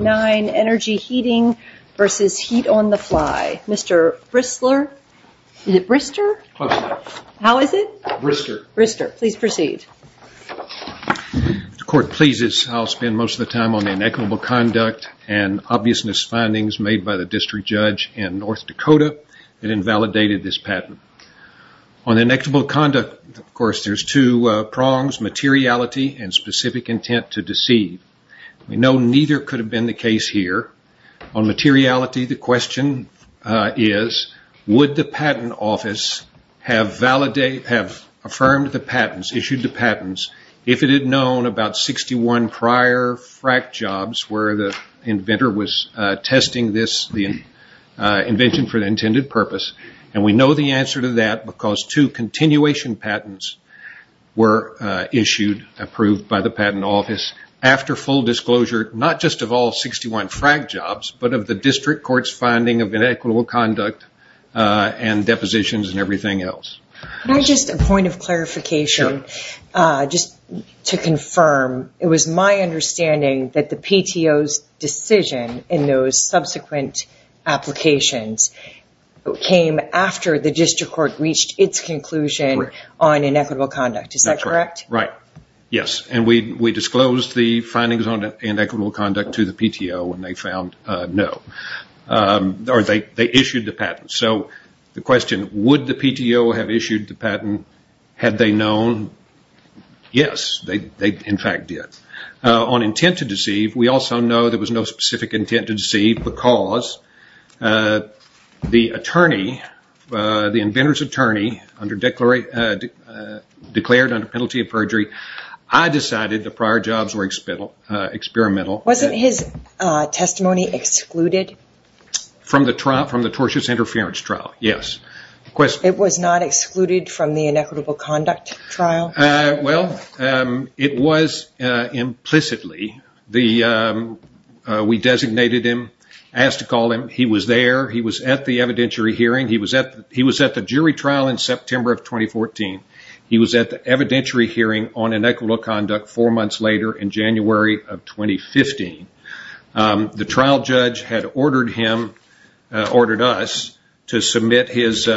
Mr. Bristler, is it Brister? Close enough. How is it? Brister. Brister. Please proceed. If the court pleases, I'll spend most of the time on the inequitable conduct and obvious misfindings made by the district judge in North Dakota that invalidated this patent. On the inequitable conduct, of course, there's two prongs, materiality and specific intent to deceive. We know neither could have been the case here. On materiality, the question is, would the patent office have affirmed the patents, issued the patents, if it had known about 61 prior fracked jobs where the inventor was testing this invention for the intended purpose? And we know the answer to that because two continuation patents were issued, approved by the patent office after full disclosure, not just of all 61 fracked jobs, but of the district court's finding of inequitable conduct and depositions and everything else. Can I just, a point of clarification, just to confirm, it was my understanding that the PTO's decision in those subsequent applications came after the district court reached its conclusion on inequitable conduct. Is that correct? Right. Yes. And we disclosed the findings on inequitable conduct to the PTO and they found no. Or they issued the patents. So the question, would the PTO have issued the patent had they known? Yes, they in fact did. On intent to deceive, we also know there was no specific intent to deceive because the I decided the prior jobs were experimental. Wasn't his testimony excluded? From the tortious interference trial, yes. It was not excluded from the inequitable conduct trial? Well, it was implicitly. We designated him, asked to call him. He was there. He was at the evidentiary hearing. He was at the jury trial in September of 2014. He was at the evidentiary hearing on inequitable conduct four months later in January of 2015. The trial judge had ordered us to submit his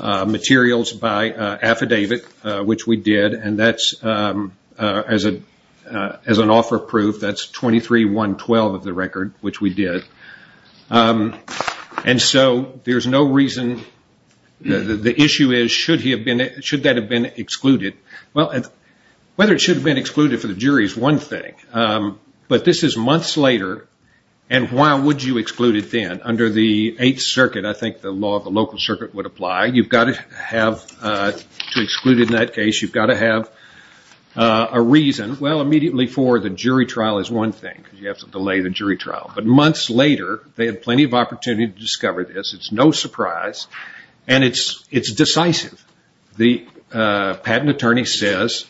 materials by affidavit, which we did. And that's, as an offer of proof, that's 23-112 of the record, which we did. And so there's no reason. The issue is, should that have been excluded? Well, whether it should have been excluded for the jury is one thing. But this is months later, and why would you exclude it then? Under the Eighth Circuit, I think the law of the local circuit would apply. You've got to have, to exclude in that case, you've got to have a reason. Well, immediately for the jury trial is one thing because you have to delay the jury trial. But months later, they had plenty of opportunity to discover this. It's no surprise. And it's decisive. The patent attorney says,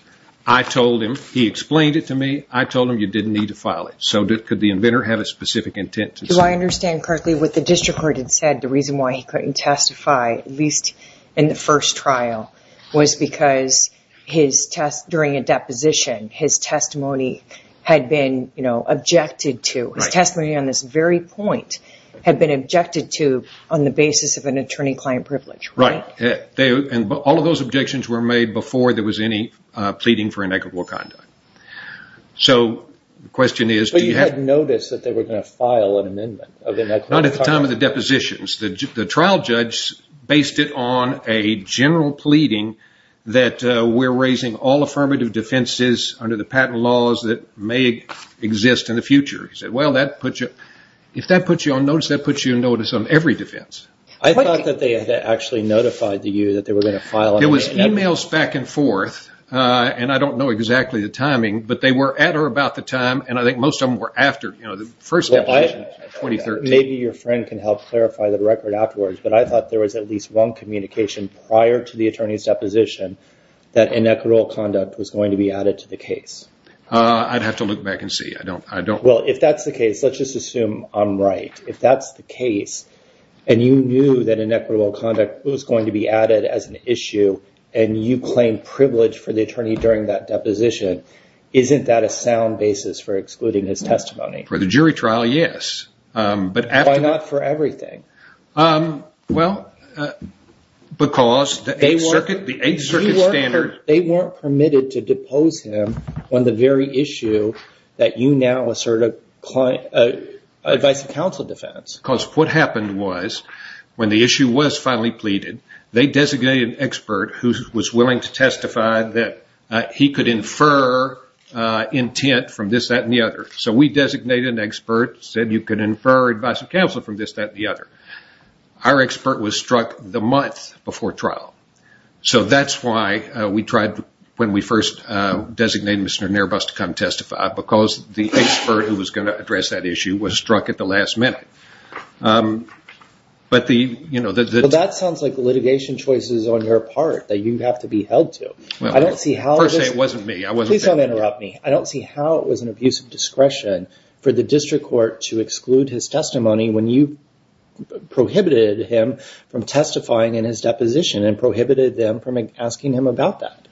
I told him, he explained it to me, I told him you didn't need to file it. So could the inventor have a specific intent to say that? Do I understand correctly what the district court had said? The reason why he couldn't testify, at least in the first trial, was because during a deposition, his testimony had been, you know, objected to. His testimony on this very point had been objected to on the basis of an attorney-client privilege, right? Right. And all of those objections were made before there was any pleading for inequitable conduct. So the question is do you have to – But you had noticed that they were going to file an amendment of inequitable conduct. Not at the time of the depositions. The trial judge based it on a general pleading that we're raising all affirmative defenses under the patent laws that may exist in the future. He said, well, if that puts you on notice, that puts you on notice on every defense. I thought that they had actually notified you that they were going to file an amendment. There was emails back and forth, and I don't know exactly the timing, but they were at or about the time, and I think most of them were after the first deposition in 2013. Maybe your friend can help clarify the record afterwards, but I thought there was at least one communication prior to the attorney's deposition that inequitable conduct was going to be added to the case. I'd have to look back and see. Well, if that's the case, let's just assume I'm right. If that's the case and you knew that inequitable conduct was going to be added as an issue and you claim privilege for the attorney during that deposition, isn't that a sound basis for excluding his testimony? For the jury trial, yes. Why not for everything? Well, because the Eighth Circuit standards – Because what happened was, when the issue was finally pleaded, they designated an expert who was willing to testify that he could infer intent from this, that, and the other. So we designated an expert who said you could infer advice of counsel from this, that, and the other. Our expert was struck the month before trial. So that's why we tried, when we first designated Mr. Narbus to come testify, because the expert who was going to address that issue was struck at the last minute. Well, that sounds like litigation choices on your part that you have to be held to. Per se, it wasn't me. Please don't interrupt me. I don't see how it was an abuse of discretion for the district court to exclude his testimony when you prohibited him from testifying in his deposition and prohibited them from asking him about that.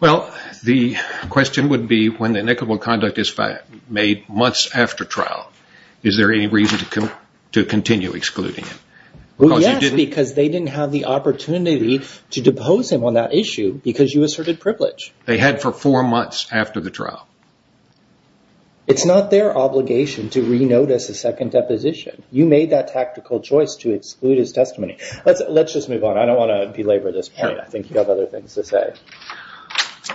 Well, the question would be, when the inequitable conduct is made months after trial, is there any reason to continue excluding him? Well, yes, because they didn't have the opportunity to depose him on that issue because you asserted privilege. They had for four months after the trial. It's not their obligation to re-notice a second deposition. You made that tactical choice to exclude his testimony. Let's just move on. I don't want to belabor this point. I think you have other things to say.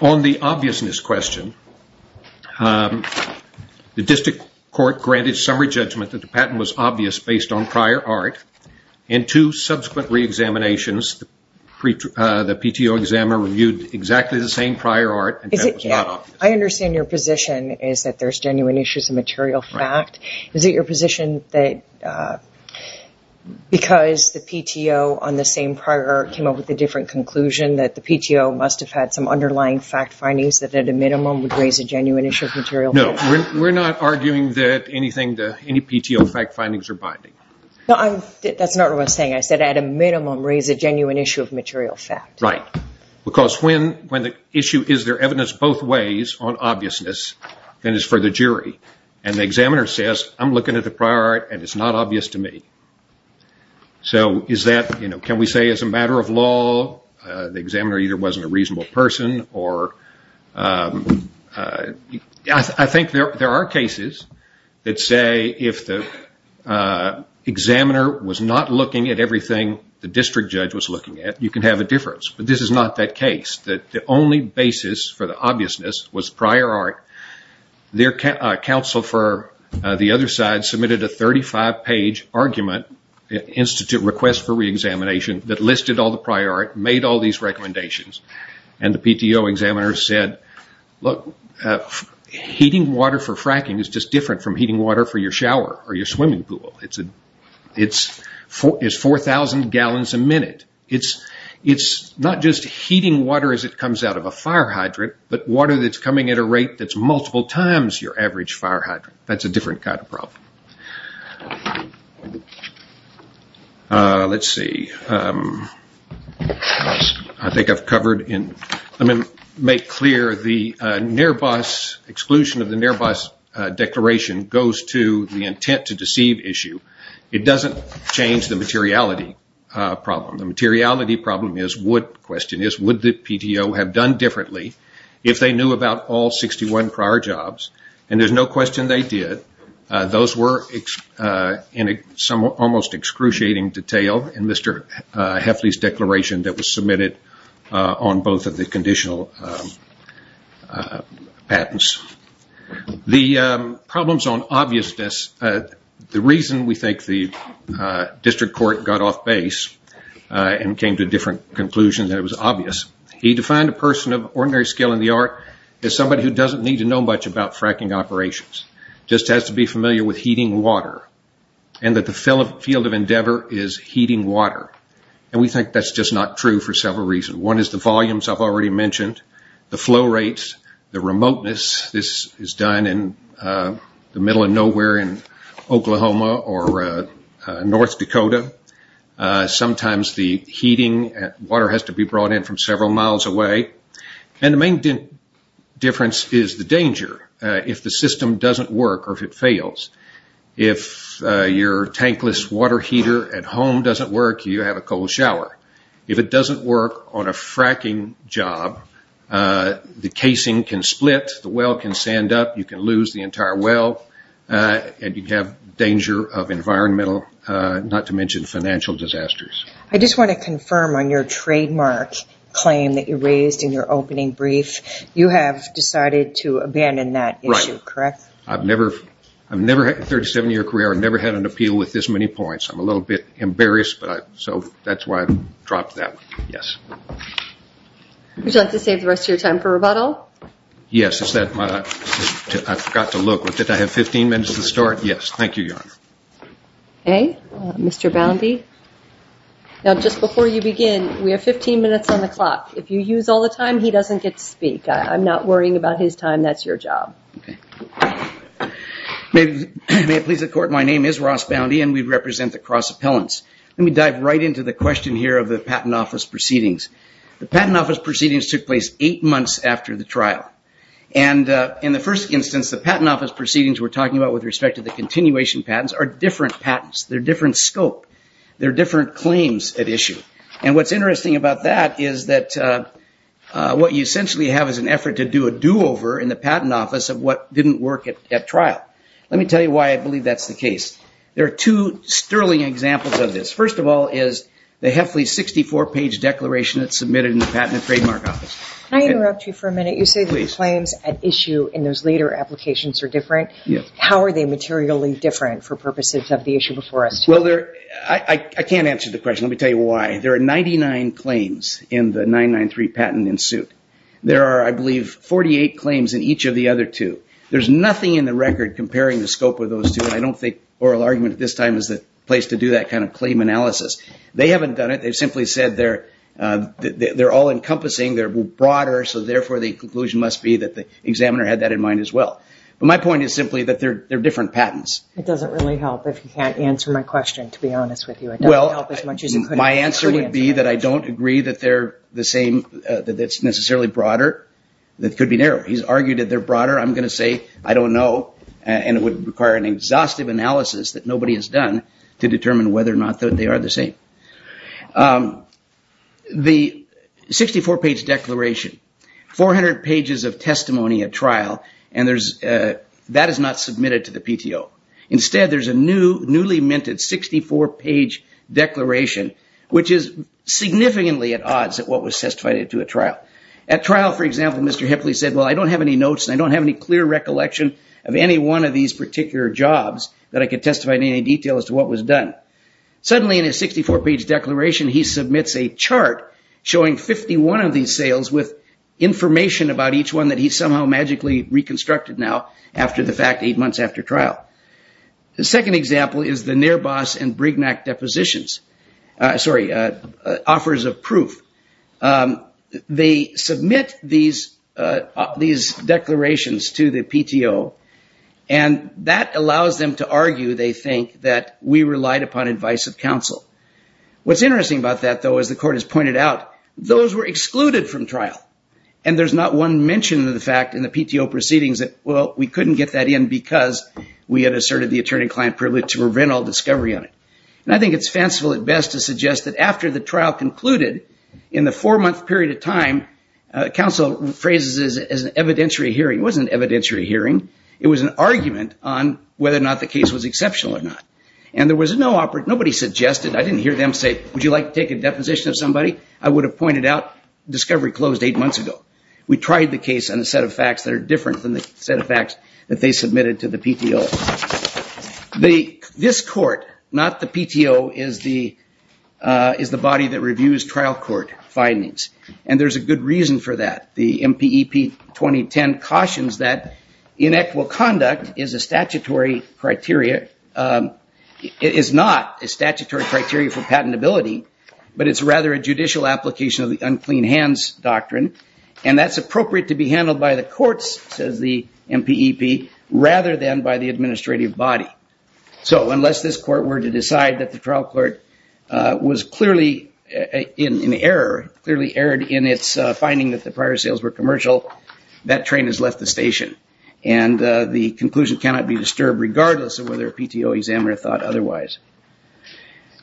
On the obviousness question, the district court granted summary judgment that the patent was obvious based on prior art. In two subsequent re-examinations, the PTO examiner reviewed exactly the same prior art, and that was not obvious. I understand your position is that there's genuine issues of material fact. Is it your position that because the PTO on the same prior art came up with a different conclusion, that the PTO must have had some underlying fact findings that at a minimum would raise a genuine issue of material fact? No, we're not arguing that any PTO fact findings are binding. That's not what I'm saying. I said at a minimum raise a genuine issue of material fact. Right, because when the issue is there evidence both ways on obviousness, then it's for the jury. The examiner says, I'm looking at the prior art and it's not obvious to me. Can we say it's a matter of law? The examiner either wasn't a reasonable person or... I think there are cases that say if the examiner was not looking at everything the district judge was looking at, you can have a difference. But this is not that case. The only basis for the obviousness was prior art. Their counsel for the other side submitted a 35-page argument, institute request for re-examination, that listed all the prior art, made all these recommendations. The PTO examiner said, heating water for fracking is just different from heating water for your shower or your swimming pool. It's 4,000 gallons a minute. It's not just heating water as it comes out of a fire hydrant, but water that's coming at a rate that's multiple times your average fire hydrant. That's a different kind of problem. Let's see. I think I've covered... Let me make clear, the exclusion of the NIRBUS declaration goes to the intent to deceive issue. It doesn't change the materiality problem. The materiality problem is would the PTO have done differently if they knew about all 61 prior jobs? There's no question they did. Those were in almost excruciating detail in Mr. Hefley's declaration that was submitted on both of the conditional patents. The problems on obviousness. The reason we think the district court got off base and came to a different conclusion than it was obvious, he defined a person of ordinary skill in the art as somebody who doesn't need to know much about fracking operations, just has to be familiar with heating water, and that the field of endeavor is heating water. We think that's just not true for several reasons. One is the volumes I've already mentioned, the flow rates, the remoteness. This is done in the middle of nowhere in Oklahoma or North Dakota. Sometimes the heating water has to be brought in from several miles away. And the main difference is the danger if the system doesn't work or if it fails. If your tankless water heater at home doesn't work, you have a cold shower. If it doesn't work on a fracking job, the casing can split, the well can sand up, you can lose the entire well, and you have danger of environmental, not to mention financial disasters. I just want to confirm on your trademark claim that you raised in your opening brief. You have decided to abandon that issue, correct? Right. I've never had a 37-year career. I've never had an appeal with this many points. I'm a little bit embarrassed, so that's why I dropped that one, yes. Would you like to save the rest of your time for rebuttal? Yes. I forgot to look. Did I have 15 minutes to start? Yes. Thank you, Your Honor. Okay. Mr. Boundy. Now, just before you begin, we have 15 minutes on the clock. If you use all the time, he doesn't get to speak. I'm not worrying about his time. That's your job. Okay. May it please the Court, my name is Ross Boundy, and we represent the Cross Appellants. Let me dive right into the question here of the Patent Office Proceedings. The Patent Office Proceedings took place eight months after the trial. And in the first instance, the Patent Office Proceedings we're talking about with respect to the continuation patents are different patents. They're different scope. They're different claims at issue. And what's interesting about that is that what you essentially have is an effort to do a do-over in the Patent Office of what didn't work at trial. Let me tell you why I believe that's the case. There are two sterling examples of this. First of all is the Hefley 64-page declaration that's submitted in the Patent and Trademark Office. Can I interrupt you for a minute? You say the claims at issue in those later applications are different. Yes. How are they materially different for purposes of the issue before us today? Well, I can't answer the question. Let me tell you why. There are 99 claims in the 993 patent in suit. There are, I believe, 48 claims in each of the other two. There's nothing in the record comparing the scope of those two, and I don't think oral argument at this time is the place to do that kind of claim analysis. They haven't done it. They've simply said they're all-encompassing, they're broader, so therefore the conclusion must be that the examiner had that in mind as well. But my point is simply that they're different patents. It doesn't really help if you can't answer my question, to be honest with you. It doesn't help as much as you could answer my question. My answer would be that I don't agree that they're the same, that it's necessarily broader. It could be narrow. He's argued that they're broader. I'm going to say I don't know, and it would require an exhaustive analysis that nobody has done to determine whether or not they are the same. The 64-page declaration, 400 pages of testimony at trial, and that is not submitted to the PTO. Instead, there's a newly minted 64-page declaration, which is significantly at odds at what was testified at a trial. At trial, for example, Mr. Hipley said, well, I don't have any notes, and I don't have any clear recollection of any one of these particular jobs that I could testify in any detail as to what was done. Suddenly in his 64-page declaration, he submits a chart showing 51 of these sales with information about each one that he somehow magically reconstructed now after the fact, eight months after trial. The second example is the Nearbos and Brignac depositions. Sorry, offers of proof. They submit these declarations to the PTO, and that allows them to argue, they think, that we relied upon advice of counsel. What's interesting about that, though, as the court has pointed out, those were excluded from trial, and there's not one mention of the fact in the PTO proceedings that, well, we couldn't get that in because we had asserted the attorney-client privilege to prevent all discovery on it. And I think it's fanciful at best to suggest that after the trial concluded, in the four-month period of time, counsel phrases it as an evidentiary hearing. It wasn't an evidentiary hearing. It was an argument on whether or not the case was exceptional or not, and there was no operative. Nobody suggested. I didn't hear them say, would you like to take a deposition of somebody? I would have pointed out discovery closed eight months ago. We tried the case on a set of facts that are different than the set of facts that they submitted to the PTO. This court, not the PTO, is the body that reviews trial court findings, and there's a good reason for that. The MPEP 2010 cautions that inequal conduct is a statutory criteria. It is not a statutory criteria for patentability, but it's rather a judicial application of the unclean hands doctrine. And that's appropriate to be handled by the courts, says the MPEP, rather than by the administrative body. So unless this court were to decide that the trial court was clearly in error, clearly erred in its finding that the prior sales were commercial, that train has left the station. And the conclusion cannot be disturbed, regardless of whether a PTO examiner thought otherwise.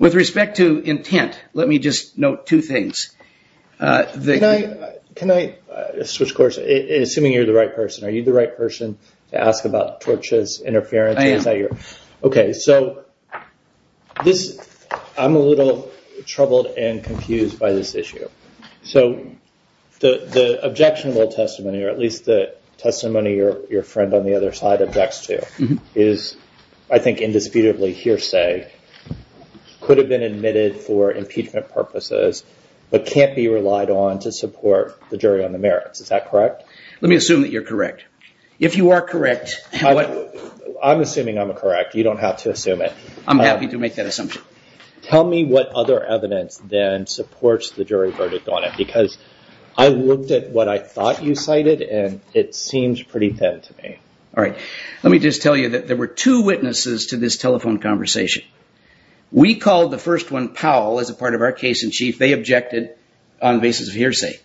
With respect to intent, let me just note two things. Can I switch course, assuming you're the right person? Are you the right person to ask about torches, interference? I am. Okay, so I'm a little troubled and confused by this issue. So the objectionable testimony, or at least the testimony your friend on the other side objects to, is I think indisputably hearsay, could have been admitted for impeachment purposes, but can't be relied on to support the jury on the merits. Is that correct? Let me assume that you're correct. If you are correct... I'm assuming I'm correct. You don't have to assume it. I'm happy to make that assumption. Tell me what other evidence then supports the jury verdict on it, because I looked at what I thought you cited, and it seems pretty thin to me. All right. Let me just tell you that there were two witnesses to this telephone conversation. We called the first one Powell as a part of our case-in-chief. They objected on the basis of hearsay.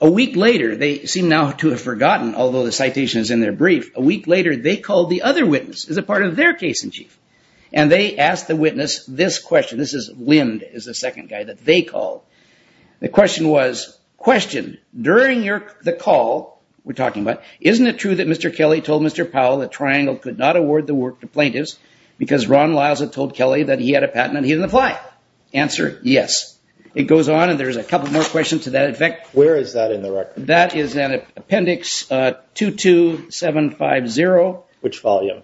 A week later, they seem now to have forgotten, although the citation is in their brief, a week later they called the other witness as a part of their case-in-chief, and they asked the witness this question. This is Lind is the second guy that they called. The question was, question, during the call we're talking about, isn't it true that Mr. Kelly told Mr. Powell that Triangle could not award the work to plaintiffs because Ron Liza told Kelly that he had a patent and he didn't apply? Answer, yes. It goes on, and there's a couple more questions to that effect. Where is that in the record? That is in Appendix 22750. Which volume?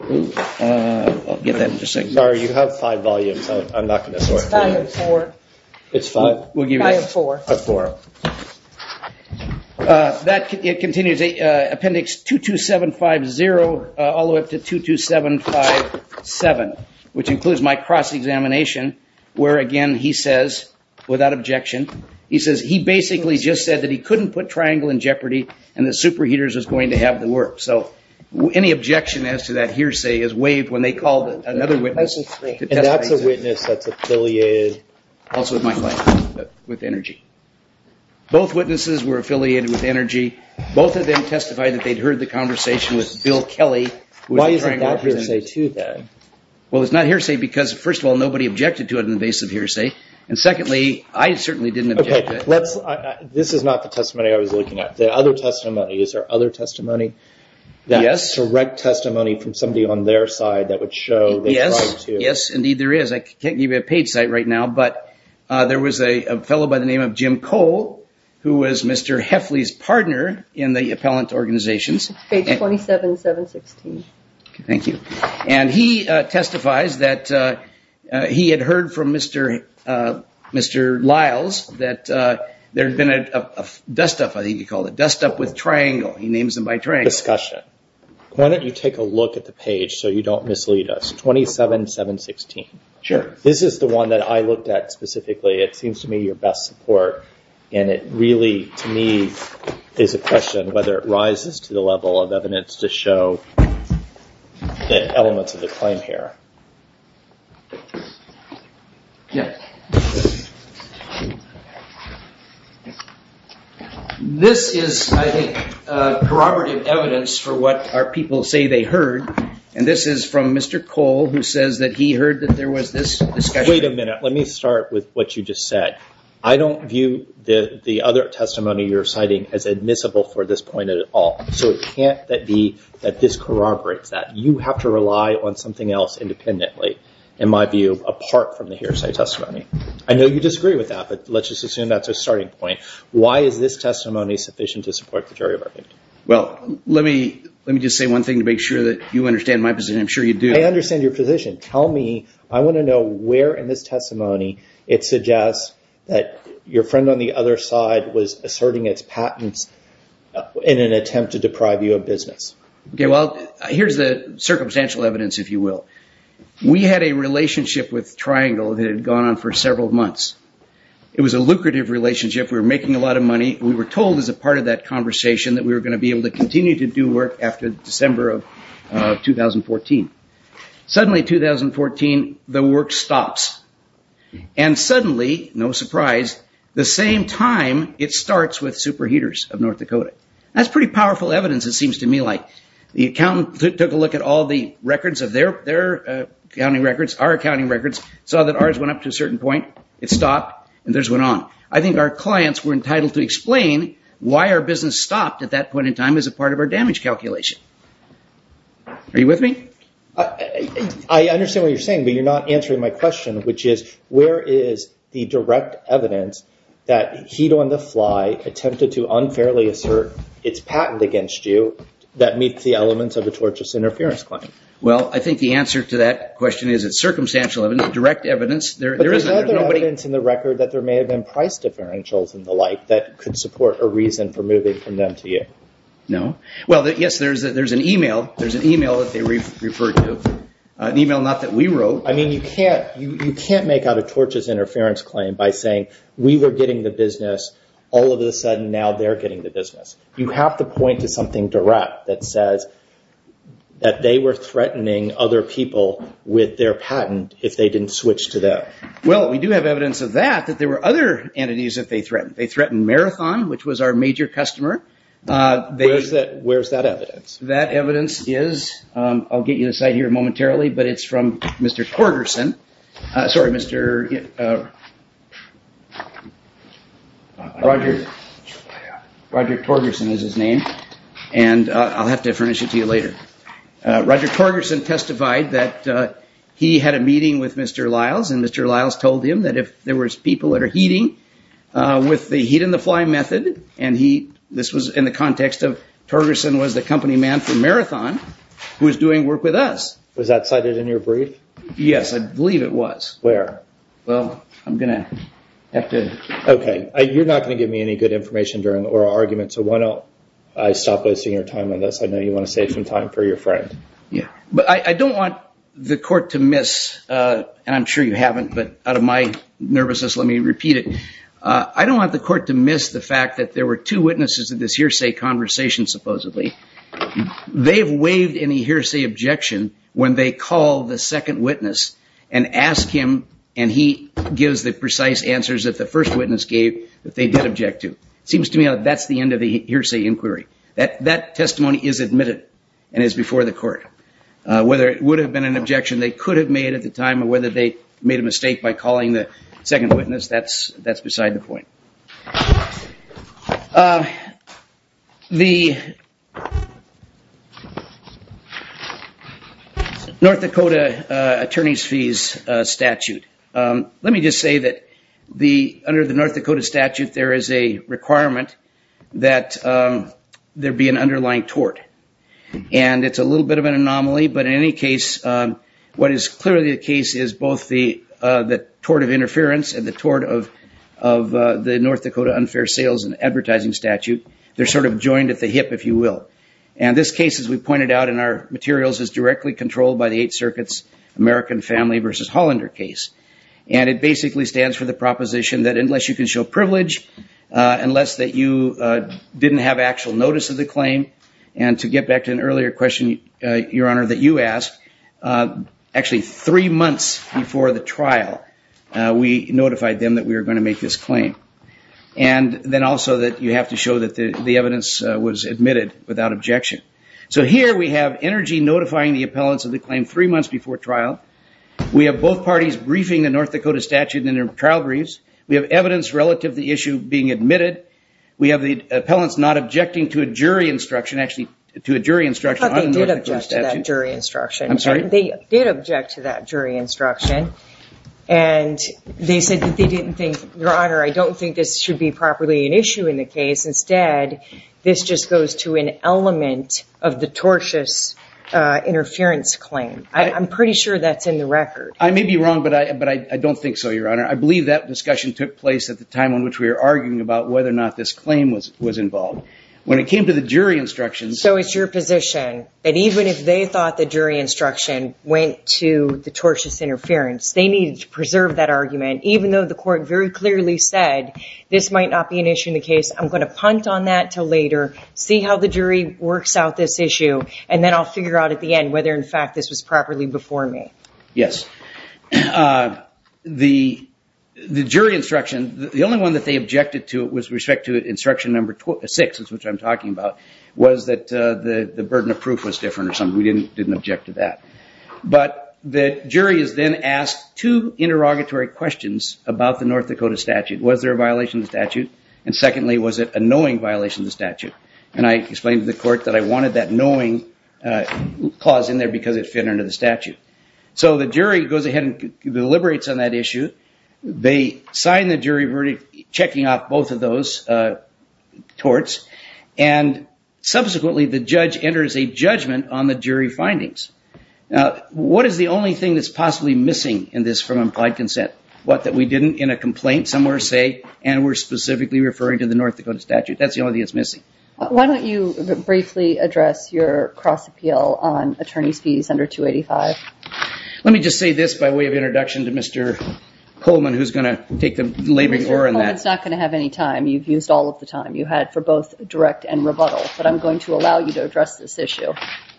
I'll get that in just a second. Sorry, you have five volumes. I'm not going to sort through those. It's five of four. It's five? Five of four. Of four. That continues, Appendix 22750 all the way up to 22757, which includes my cross-examination where, again, he says, without objection, he says he basically just said that he couldn't put Triangle in jeopardy and that Super Heaters was going to have the work. So any objection as to that hearsay is waived when they called another witness. That's a witness that's affiliated. Also with my client, with Energy. Both witnesses were affiliated with Energy. Both of them testified that they'd heard the conversation with Bill Kelly. Why isn't that hearsay, too, then? Well, it's not hearsay because, first of all, nobody objected to it on the basis of hearsay, and secondly, I certainly didn't object to it. This is not the testimony I was looking at. The other testimony, is there other testimony, that direct testimony from somebody on their side that would show they tried to? Yes, indeed there is. I can't give you a page site right now, but there was a fellow by the name of Jim Cole, who was Mr. Hefley's partner in the appellant organizations. Page 27716. Thank you. And he testifies that he had heard from Mr. Lyles that there had been a dust-up, I think he called it, a dust-up with Triangle. He names them by Triangle. Discussion. Why don't you take a look at the page so you don't mislead us. 27716. Sure. This is the one that I looked at specifically. It seems to me your best support. And it really, to me, is a question whether it rises to the level of evidence to show the elements of the claim here. This is, I think, corroborative evidence for what our people say they heard. And this is from Mr. Cole, who says that he heard that there was this discussion. Wait a minute. Let me start with what you just said. I don't view the other testimony you're citing as admissible for this point at all. So it can't be that this corroborates that. You have to rely on something else independently, in my view, apart from the hearsay testimony. I know you disagree with that, but let's just assume that's a starting point. Why is this testimony sufficient to support the jury verdict? Well, let me just say one thing to make sure that you understand my position. I'm sure you do. I understand your position. Tell me. I want to know where in this testimony it suggests that your friend on the other side was asserting its patents in an attempt to deprive you of business. Well, here's the circumstantial evidence, if you will. We had a relationship with Triangle that had gone on for several months. It was a lucrative relationship. We were making a lot of money. We were told as a part of that conversation that we were going to be able to continue to do work after December of 2014. Suddenly, 2014, the work stops. And suddenly, no surprise, the same time, it starts with superheaters of North Dakota. That's pretty powerful evidence, it seems to me. The accountant took a look at all the records of their accounting records, our accounting records, saw that ours went up to a certain point, it stopped, and theirs went on. I think our clients were entitled to explain why our business stopped at that point in time as a part of our damage calculation. Are you with me? I understand what you're saying, but you're not answering my question, which is, where is the direct evidence that Heat on the Fly attempted to unfairly assert its patent against you that meets the elements of a tortious interference claim? Well, I think the answer to that question is it's circumstantial evidence, direct evidence. But there's other evidence in the record that there may have been price differentials and the like that could support a reason for moving from them to you. No. Well, yes, there's an email that they referred to, an email not that we wrote. I mean, you can't make out a tortious interference claim by saying, we were getting the business, all of a sudden, now they're getting the business. You have to point to something direct that says that they were threatening other people with their patent if they didn't switch to that. Well, we do have evidence of that, that there were other entities that they threatened. They threatened Marathon, which was our major customer. Where's that evidence? That evidence is, I'll get you the site here momentarily, but it's from Mr. Torgerson. Sorry, Mr. Roger Torgerson is his name. And I'll have to furnish it to you later. Roger Torgerson testified that he had a meeting with Mr. Lyles, and Mr. Lyles told him that if there was people that are heating with the heat-on-the-fly method, and this was in the context of Torgerson was the company man for Marathon who was doing work with us. Was that cited in your brief? Yes, I believe it was. Where? Well, I'm going to have to. Okay. You're not going to give me any good information or arguments, so why don't I stop wasting your time on this? I know you want to save some time for your friend. Yeah. But I don't want the court to miss, and I'm sure you haven't, but out of my nervousness, let me repeat it. I don't want the court to miss the fact that there were two witnesses in this hearsay conversation, supposedly. They've waived any hearsay objection when they call the second witness and ask him, and he gives the precise answers that the first witness gave that they did object to. It seems to me that that's the end of the hearsay inquiry. That testimony is admitted and is before the court. Whether it would have been an objection they could have made at the time or whether they made a mistake by calling the second witness, that's beside the point. The North Dakota attorney's fees statute. Let me just say that under the North Dakota statute there is a requirement that there be an underlying tort. And it's a little bit of an anomaly, but in any case, what is clearly the case is both the tort of interference and the tort of the North Dakota unfair sales and advertising statute. They're sort of joined at the hip, if you will. And this case, as we pointed out in our materials, is directly controlled by the Eighth Circuit's American Family versus Hollander case. And it basically stands for the proposition that unless you can show privilege, unless that you didn't have actual notice of the claim, and to get back to an earlier question, Your Honor, that you asked, actually three months before the trial, we notified them that we were going to make this claim. And then also that you have to show that the evidence was admitted without objection. So here we have energy notifying the appellants of the claim three months before trial. We have both parties briefing the North Dakota statute in their trial briefs. We have evidence relative to the issue being admitted. We have the appellants not objecting to a jury instruction, actually to a jury instruction. I thought they did object to that jury instruction. I'm sorry? They did object to that jury instruction. And they said that they didn't think, Your Honor, I don't think this should be properly an issue in the case. Instead, this just goes to an element of the tortious interference claim. I'm pretty sure that's in the record. I may be wrong, but I don't think so, Your Honor. I believe that discussion took place at the time on which we were arguing about whether or not this claim was involved. When it came to the jury instructions. So it's your position that even if they thought the jury instruction went to the tortious interference, they needed to preserve that argument even though the court very clearly said this might not be an issue in the case. I'm going to punt on that until later, see how the jury works out this issue, and then I'll figure out at the end whether, in fact, this was properly before me. Yes. The jury instruction, the only one that they objected to with respect to instruction number six, which I'm talking about, was that the burden of proof was different or something. We didn't object to that. But the jury is then asked two interrogatory questions about the North Dakota statute. Was there a violation of the statute? And secondly, was it a knowing violation of the statute? And I explained to the court that I wanted that knowing clause in there because it fit under the statute. So the jury goes ahead and deliberates on that issue. They sign the jury verdict, checking off both of those torts, and subsequently the judge enters a judgment on the jury findings. Now, what is the only thing that's possibly missing in this from implied consent? What that we didn't in a complaint somewhere say, and we're specifically referring to the North Dakota statute. That's the only thing that's missing. Why don't you briefly address your cross appeal on attorney's fees under 285? Let me just say this by way of introduction to Mr. Coleman, who's going to take the laboring oar on that. Mr. Coleman's not going to have any time. You've used all of the time you had for both direct and rebuttal. But I'm going to allow you to address this issue.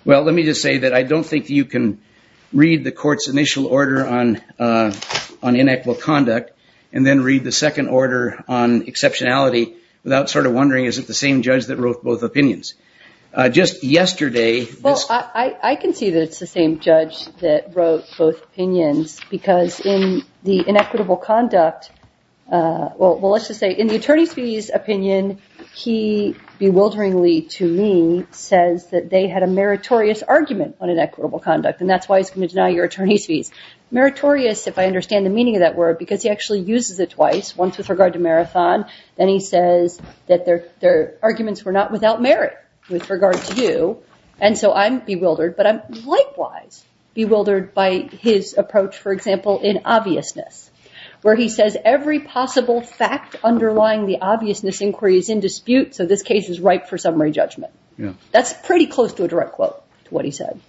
Well, let me just say that I don't think you can read the court's initial order on inequal conduct and then read the second order on exceptionality without sort of wondering, is it the same judge that wrote both opinions? Just yesterday. Well, I can see that it's the same judge that wrote both opinions because in the inequitable conduct, well, let's just say in the attorney's fees opinion, he bewilderingly to me says that they had a meritorious argument on inequitable conduct, and that's why he's going to deny your attorney's fees. Meritorious, if I understand the meaning of that word, because he actually uses it twice, once with regard to marathon, then he says that their arguments were not without merit with regard to you. And so I'm bewildered, but I'm likewise bewildered by his approach, for example, in obviousness, where he says every possible fact underlying the obviousness inquiry is in dispute. So this case is ripe for summary judgment. That's pretty close to a direct quote to what he said.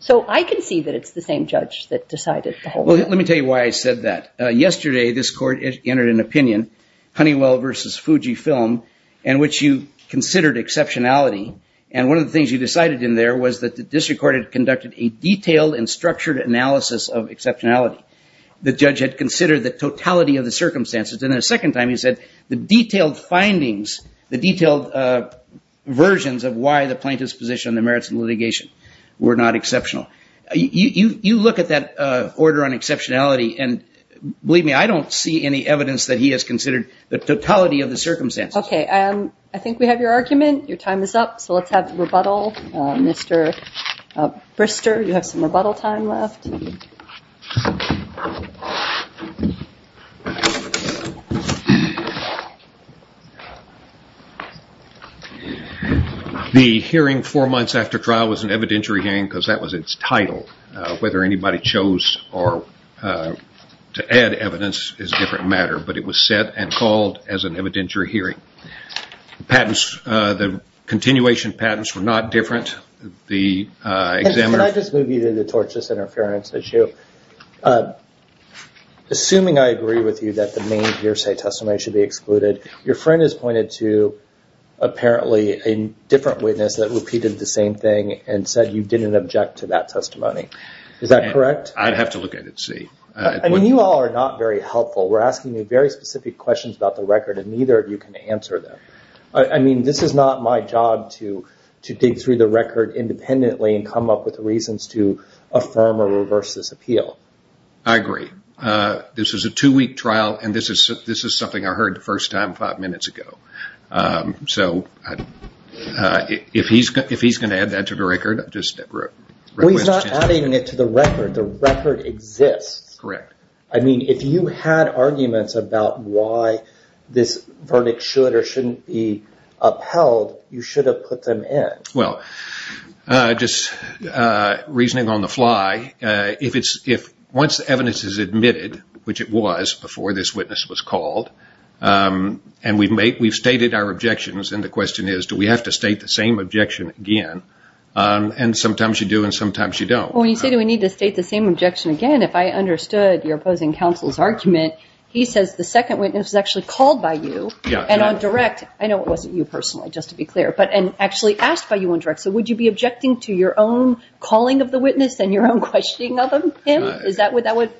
So I can see that it's the same judge that decided. Well, let me tell you why I said that. Yesterday, this court entered an opinion, Honeywell versus Fujifilm, in which you considered exceptionality. And one of the things you decided in there was that the district court had conducted a detailed and structured analysis of exceptionality. The judge had considered the totality of the circumstances. And the second time he said the detailed findings, the detailed versions of why the plaintiff's position on the merits of litigation were not exceptional. You look at that order on exceptionality, and believe me, I don't see any evidence that he has considered the totality of the circumstances. Okay, I think we have your argument. Your time is up, so let's have rebuttal. Mr. Brister, you have some rebuttal time left. The hearing four months after trial was an evidentiary hearing because that was its title. Whether anybody chose to add evidence is a different matter, but it was set and called as an evidentiary hearing. The continuation patents were not different. Can I just move you to the tortious interference issue? Assuming I agree with you that the main hearsay testimony should be excluded, your friend has pointed to, apparently, a different witness that repeated the same thing and said you didn't object to that testimony. Is that correct? I'd have to look at it and see. I mean, you all are not very helpful. We're asking you very specific questions about the record, and neither of you can answer them. I mean, this is not my job to dig through the record independently and come up with reasons to affirm or reverse this appeal. I agree. This is a two-week trial, and this is something I heard the first time five minutes ago. So, if he's going to add that to the record, I just request a change. Well, he's not adding it to the record. The record exists. Correct. I mean, if you had arguments about why this verdict should or shouldn't be upheld, you should have put them in. Well, just reasoning on the fly, once the evidence is admitted, which it was before this witness was called, and we've stated our objections and the question is do we have to state the same objection again, and sometimes you do and sometimes you don't. Well, when you say do we need to state the same objection again, if I understood your opposing counsel's argument, he says the second witness was actually called by you, and on direct, I know it wasn't you personally, just to be clear, and actually asked by you on direct, so would you be objecting to your own calling of the witness and your own questioning of him?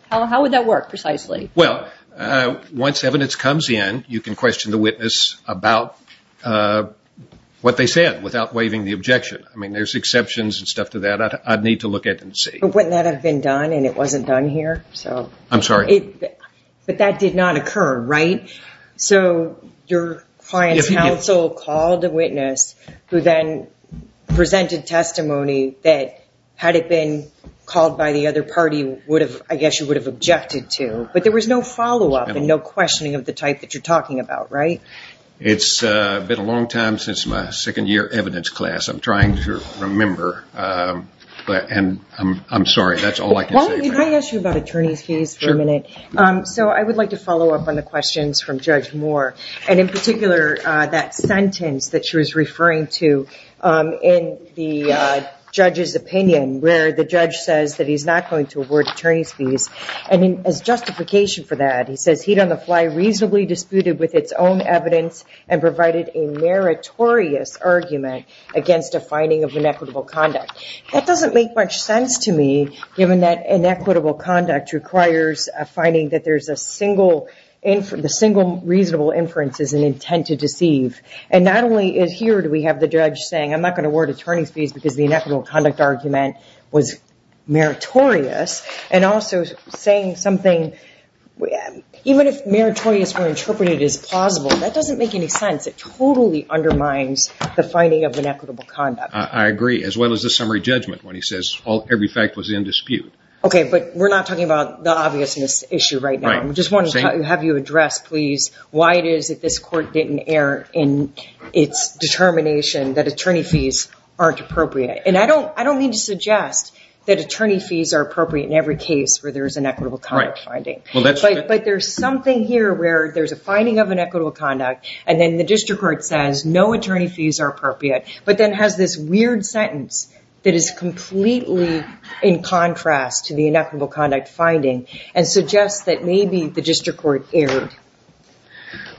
How would that work precisely? Well, once evidence comes in, you can question the witness about what they said without waiving the objection. I mean, there's exceptions and stuff to that. I'd need to look at it and see. But wouldn't that have been done and it wasn't done here? I'm sorry? But that did not occur, right? So your client's counsel called the witness who then presented testimony that, had it been called by the other party, I guess you would have objected to, but there was no follow-up and no questioning of the type that you're talking about, right? It's been a long time since my second year evidence class. I'm trying to remember, and I'm sorry, that's all I can say. Well, can I ask you about attorney's fees for a minute? Sure. So I would like to follow up on the questions from Judge Moore, and in particular that sentence that she was referring to in the judge's opinion, where the judge says that he's not going to award attorney's fees. And as justification for that, he says, reasonably disputed with its own evidence and provided a meritorious argument against a finding of inequitable conduct. That doesn't make much sense to me, given that inequitable conduct requires a finding that there's a single reasonable inference as an intent to deceive. And not only here do we have the judge saying, I'm not going to award attorney's fees because the inequitable conduct argument was meritorious, and also saying something, even if meritorious were interpreted as plausible, that doesn't make any sense. It totally undermines the finding of inequitable conduct. I agree, as well as the summary judgment when he says every fact was in dispute. Okay, but we're not talking about the obviousness issue right now. I just want to have you address, please, why it is that this court didn't err in its determination that attorney fees aren't appropriate. And I don't mean to suggest that attorney fees are appropriate in every case where there's inequitable conduct finding. But there's something here where there's a finding of inequitable conduct, and then the district court says no attorney fees are appropriate, but then has this weird sentence that is completely in contrast to the inequitable conduct finding and suggests that maybe the district court erred.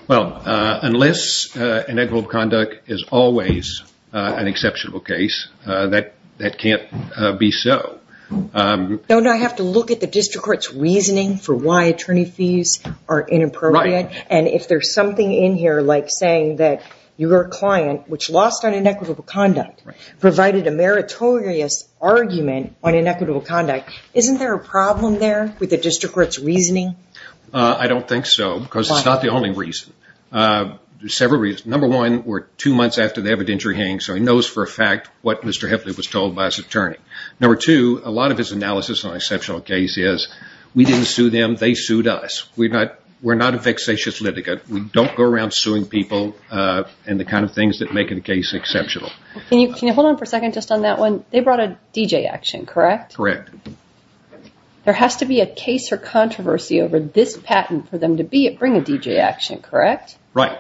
Well, unless inequitable conduct is always an exceptional case, that can't be so. Don't I have to look at the district court's reasoning for why attorney fees are inappropriate? Right. And if there's something in here like saying that your client, which lost on inequitable conduct, provided a meritorious argument on inequitable conduct, I don't think so because it's not the only reason. There's several reasons. Number one, we're two months after the evidentiary hearing, so he knows for a fact what Mr. Hifley was told by his attorney. Number two, a lot of his analysis on exceptional case is we didn't sue them, they sued us. We're not a vexatious litigant. We don't go around suing people and the kind of things that make a case exceptional. Can you hold on for a second just on that one? They brought a DJ action, correct? Correct. There has to be a case or controversy over this patent for them to bring a DJ action, correct? Right.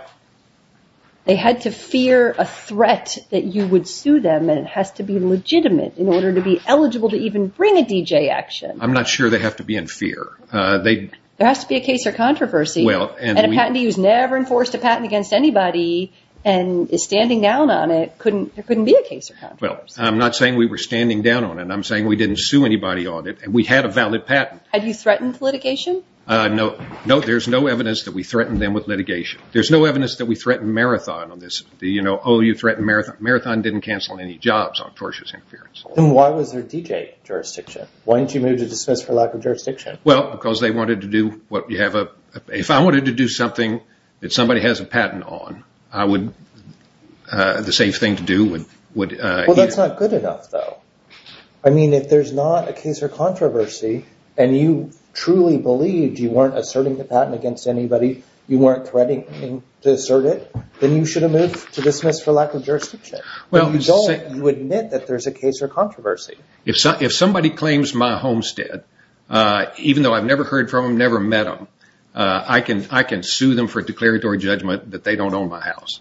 They had to fear a threat that you would sue them, and it has to be legitimate in order to be eligible to even bring a DJ action. I'm not sure they have to be in fear. There has to be a case or controversy, and a patentee who's never enforced a patent against anybody and is standing down on it, there couldn't be a case or controversy. I'm not saying we were standing down on it. I'm saying we didn't sue anybody on it, and we had a valid patent. Had you threatened litigation? No. There's no evidence that we threatened them with litigation. There's no evidence that we threatened Marathon on this. Oh, you threatened Marathon. Marathon didn't cancel any jobs off Torsh's interference. Then why was there DJ jurisdiction? Why didn't you move to dismiss for lack of jurisdiction? Well, because they wanted to do what you have. If I wanted to do something that somebody has a patent on, the safe thing to do would be… Well, that's not good enough, though. I mean, if there's not a case or controversy, and you truly believed you weren't asserting the patent against anybody, you weren't threatening to assert it, then you should have moved to dismiss for lack of jurisdiction. You admit that there's a case or controversy. If somebody claims my homestead, even though I've never heard from them, never met them, I can sue them for declaratory judgment that they don't own my house.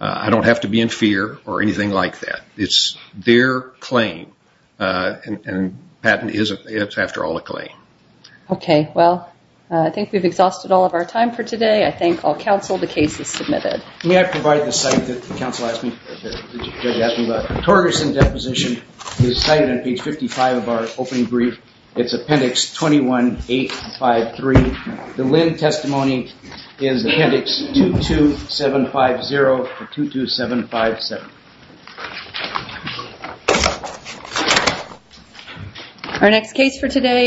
I don't have to be in fear or anything like that. It's their claim. And patent is, after all, a claim. Okay. Well, I think we've exhausted all of our time for today. I thank all counsel. The case is submitted. May I provide the site that the judge asked me about? Torgerson deposition is cited on page 55 of our opening brief. It's appendix 21853. The Linn testimony is appendix 22750 to 22757. Our next case for today…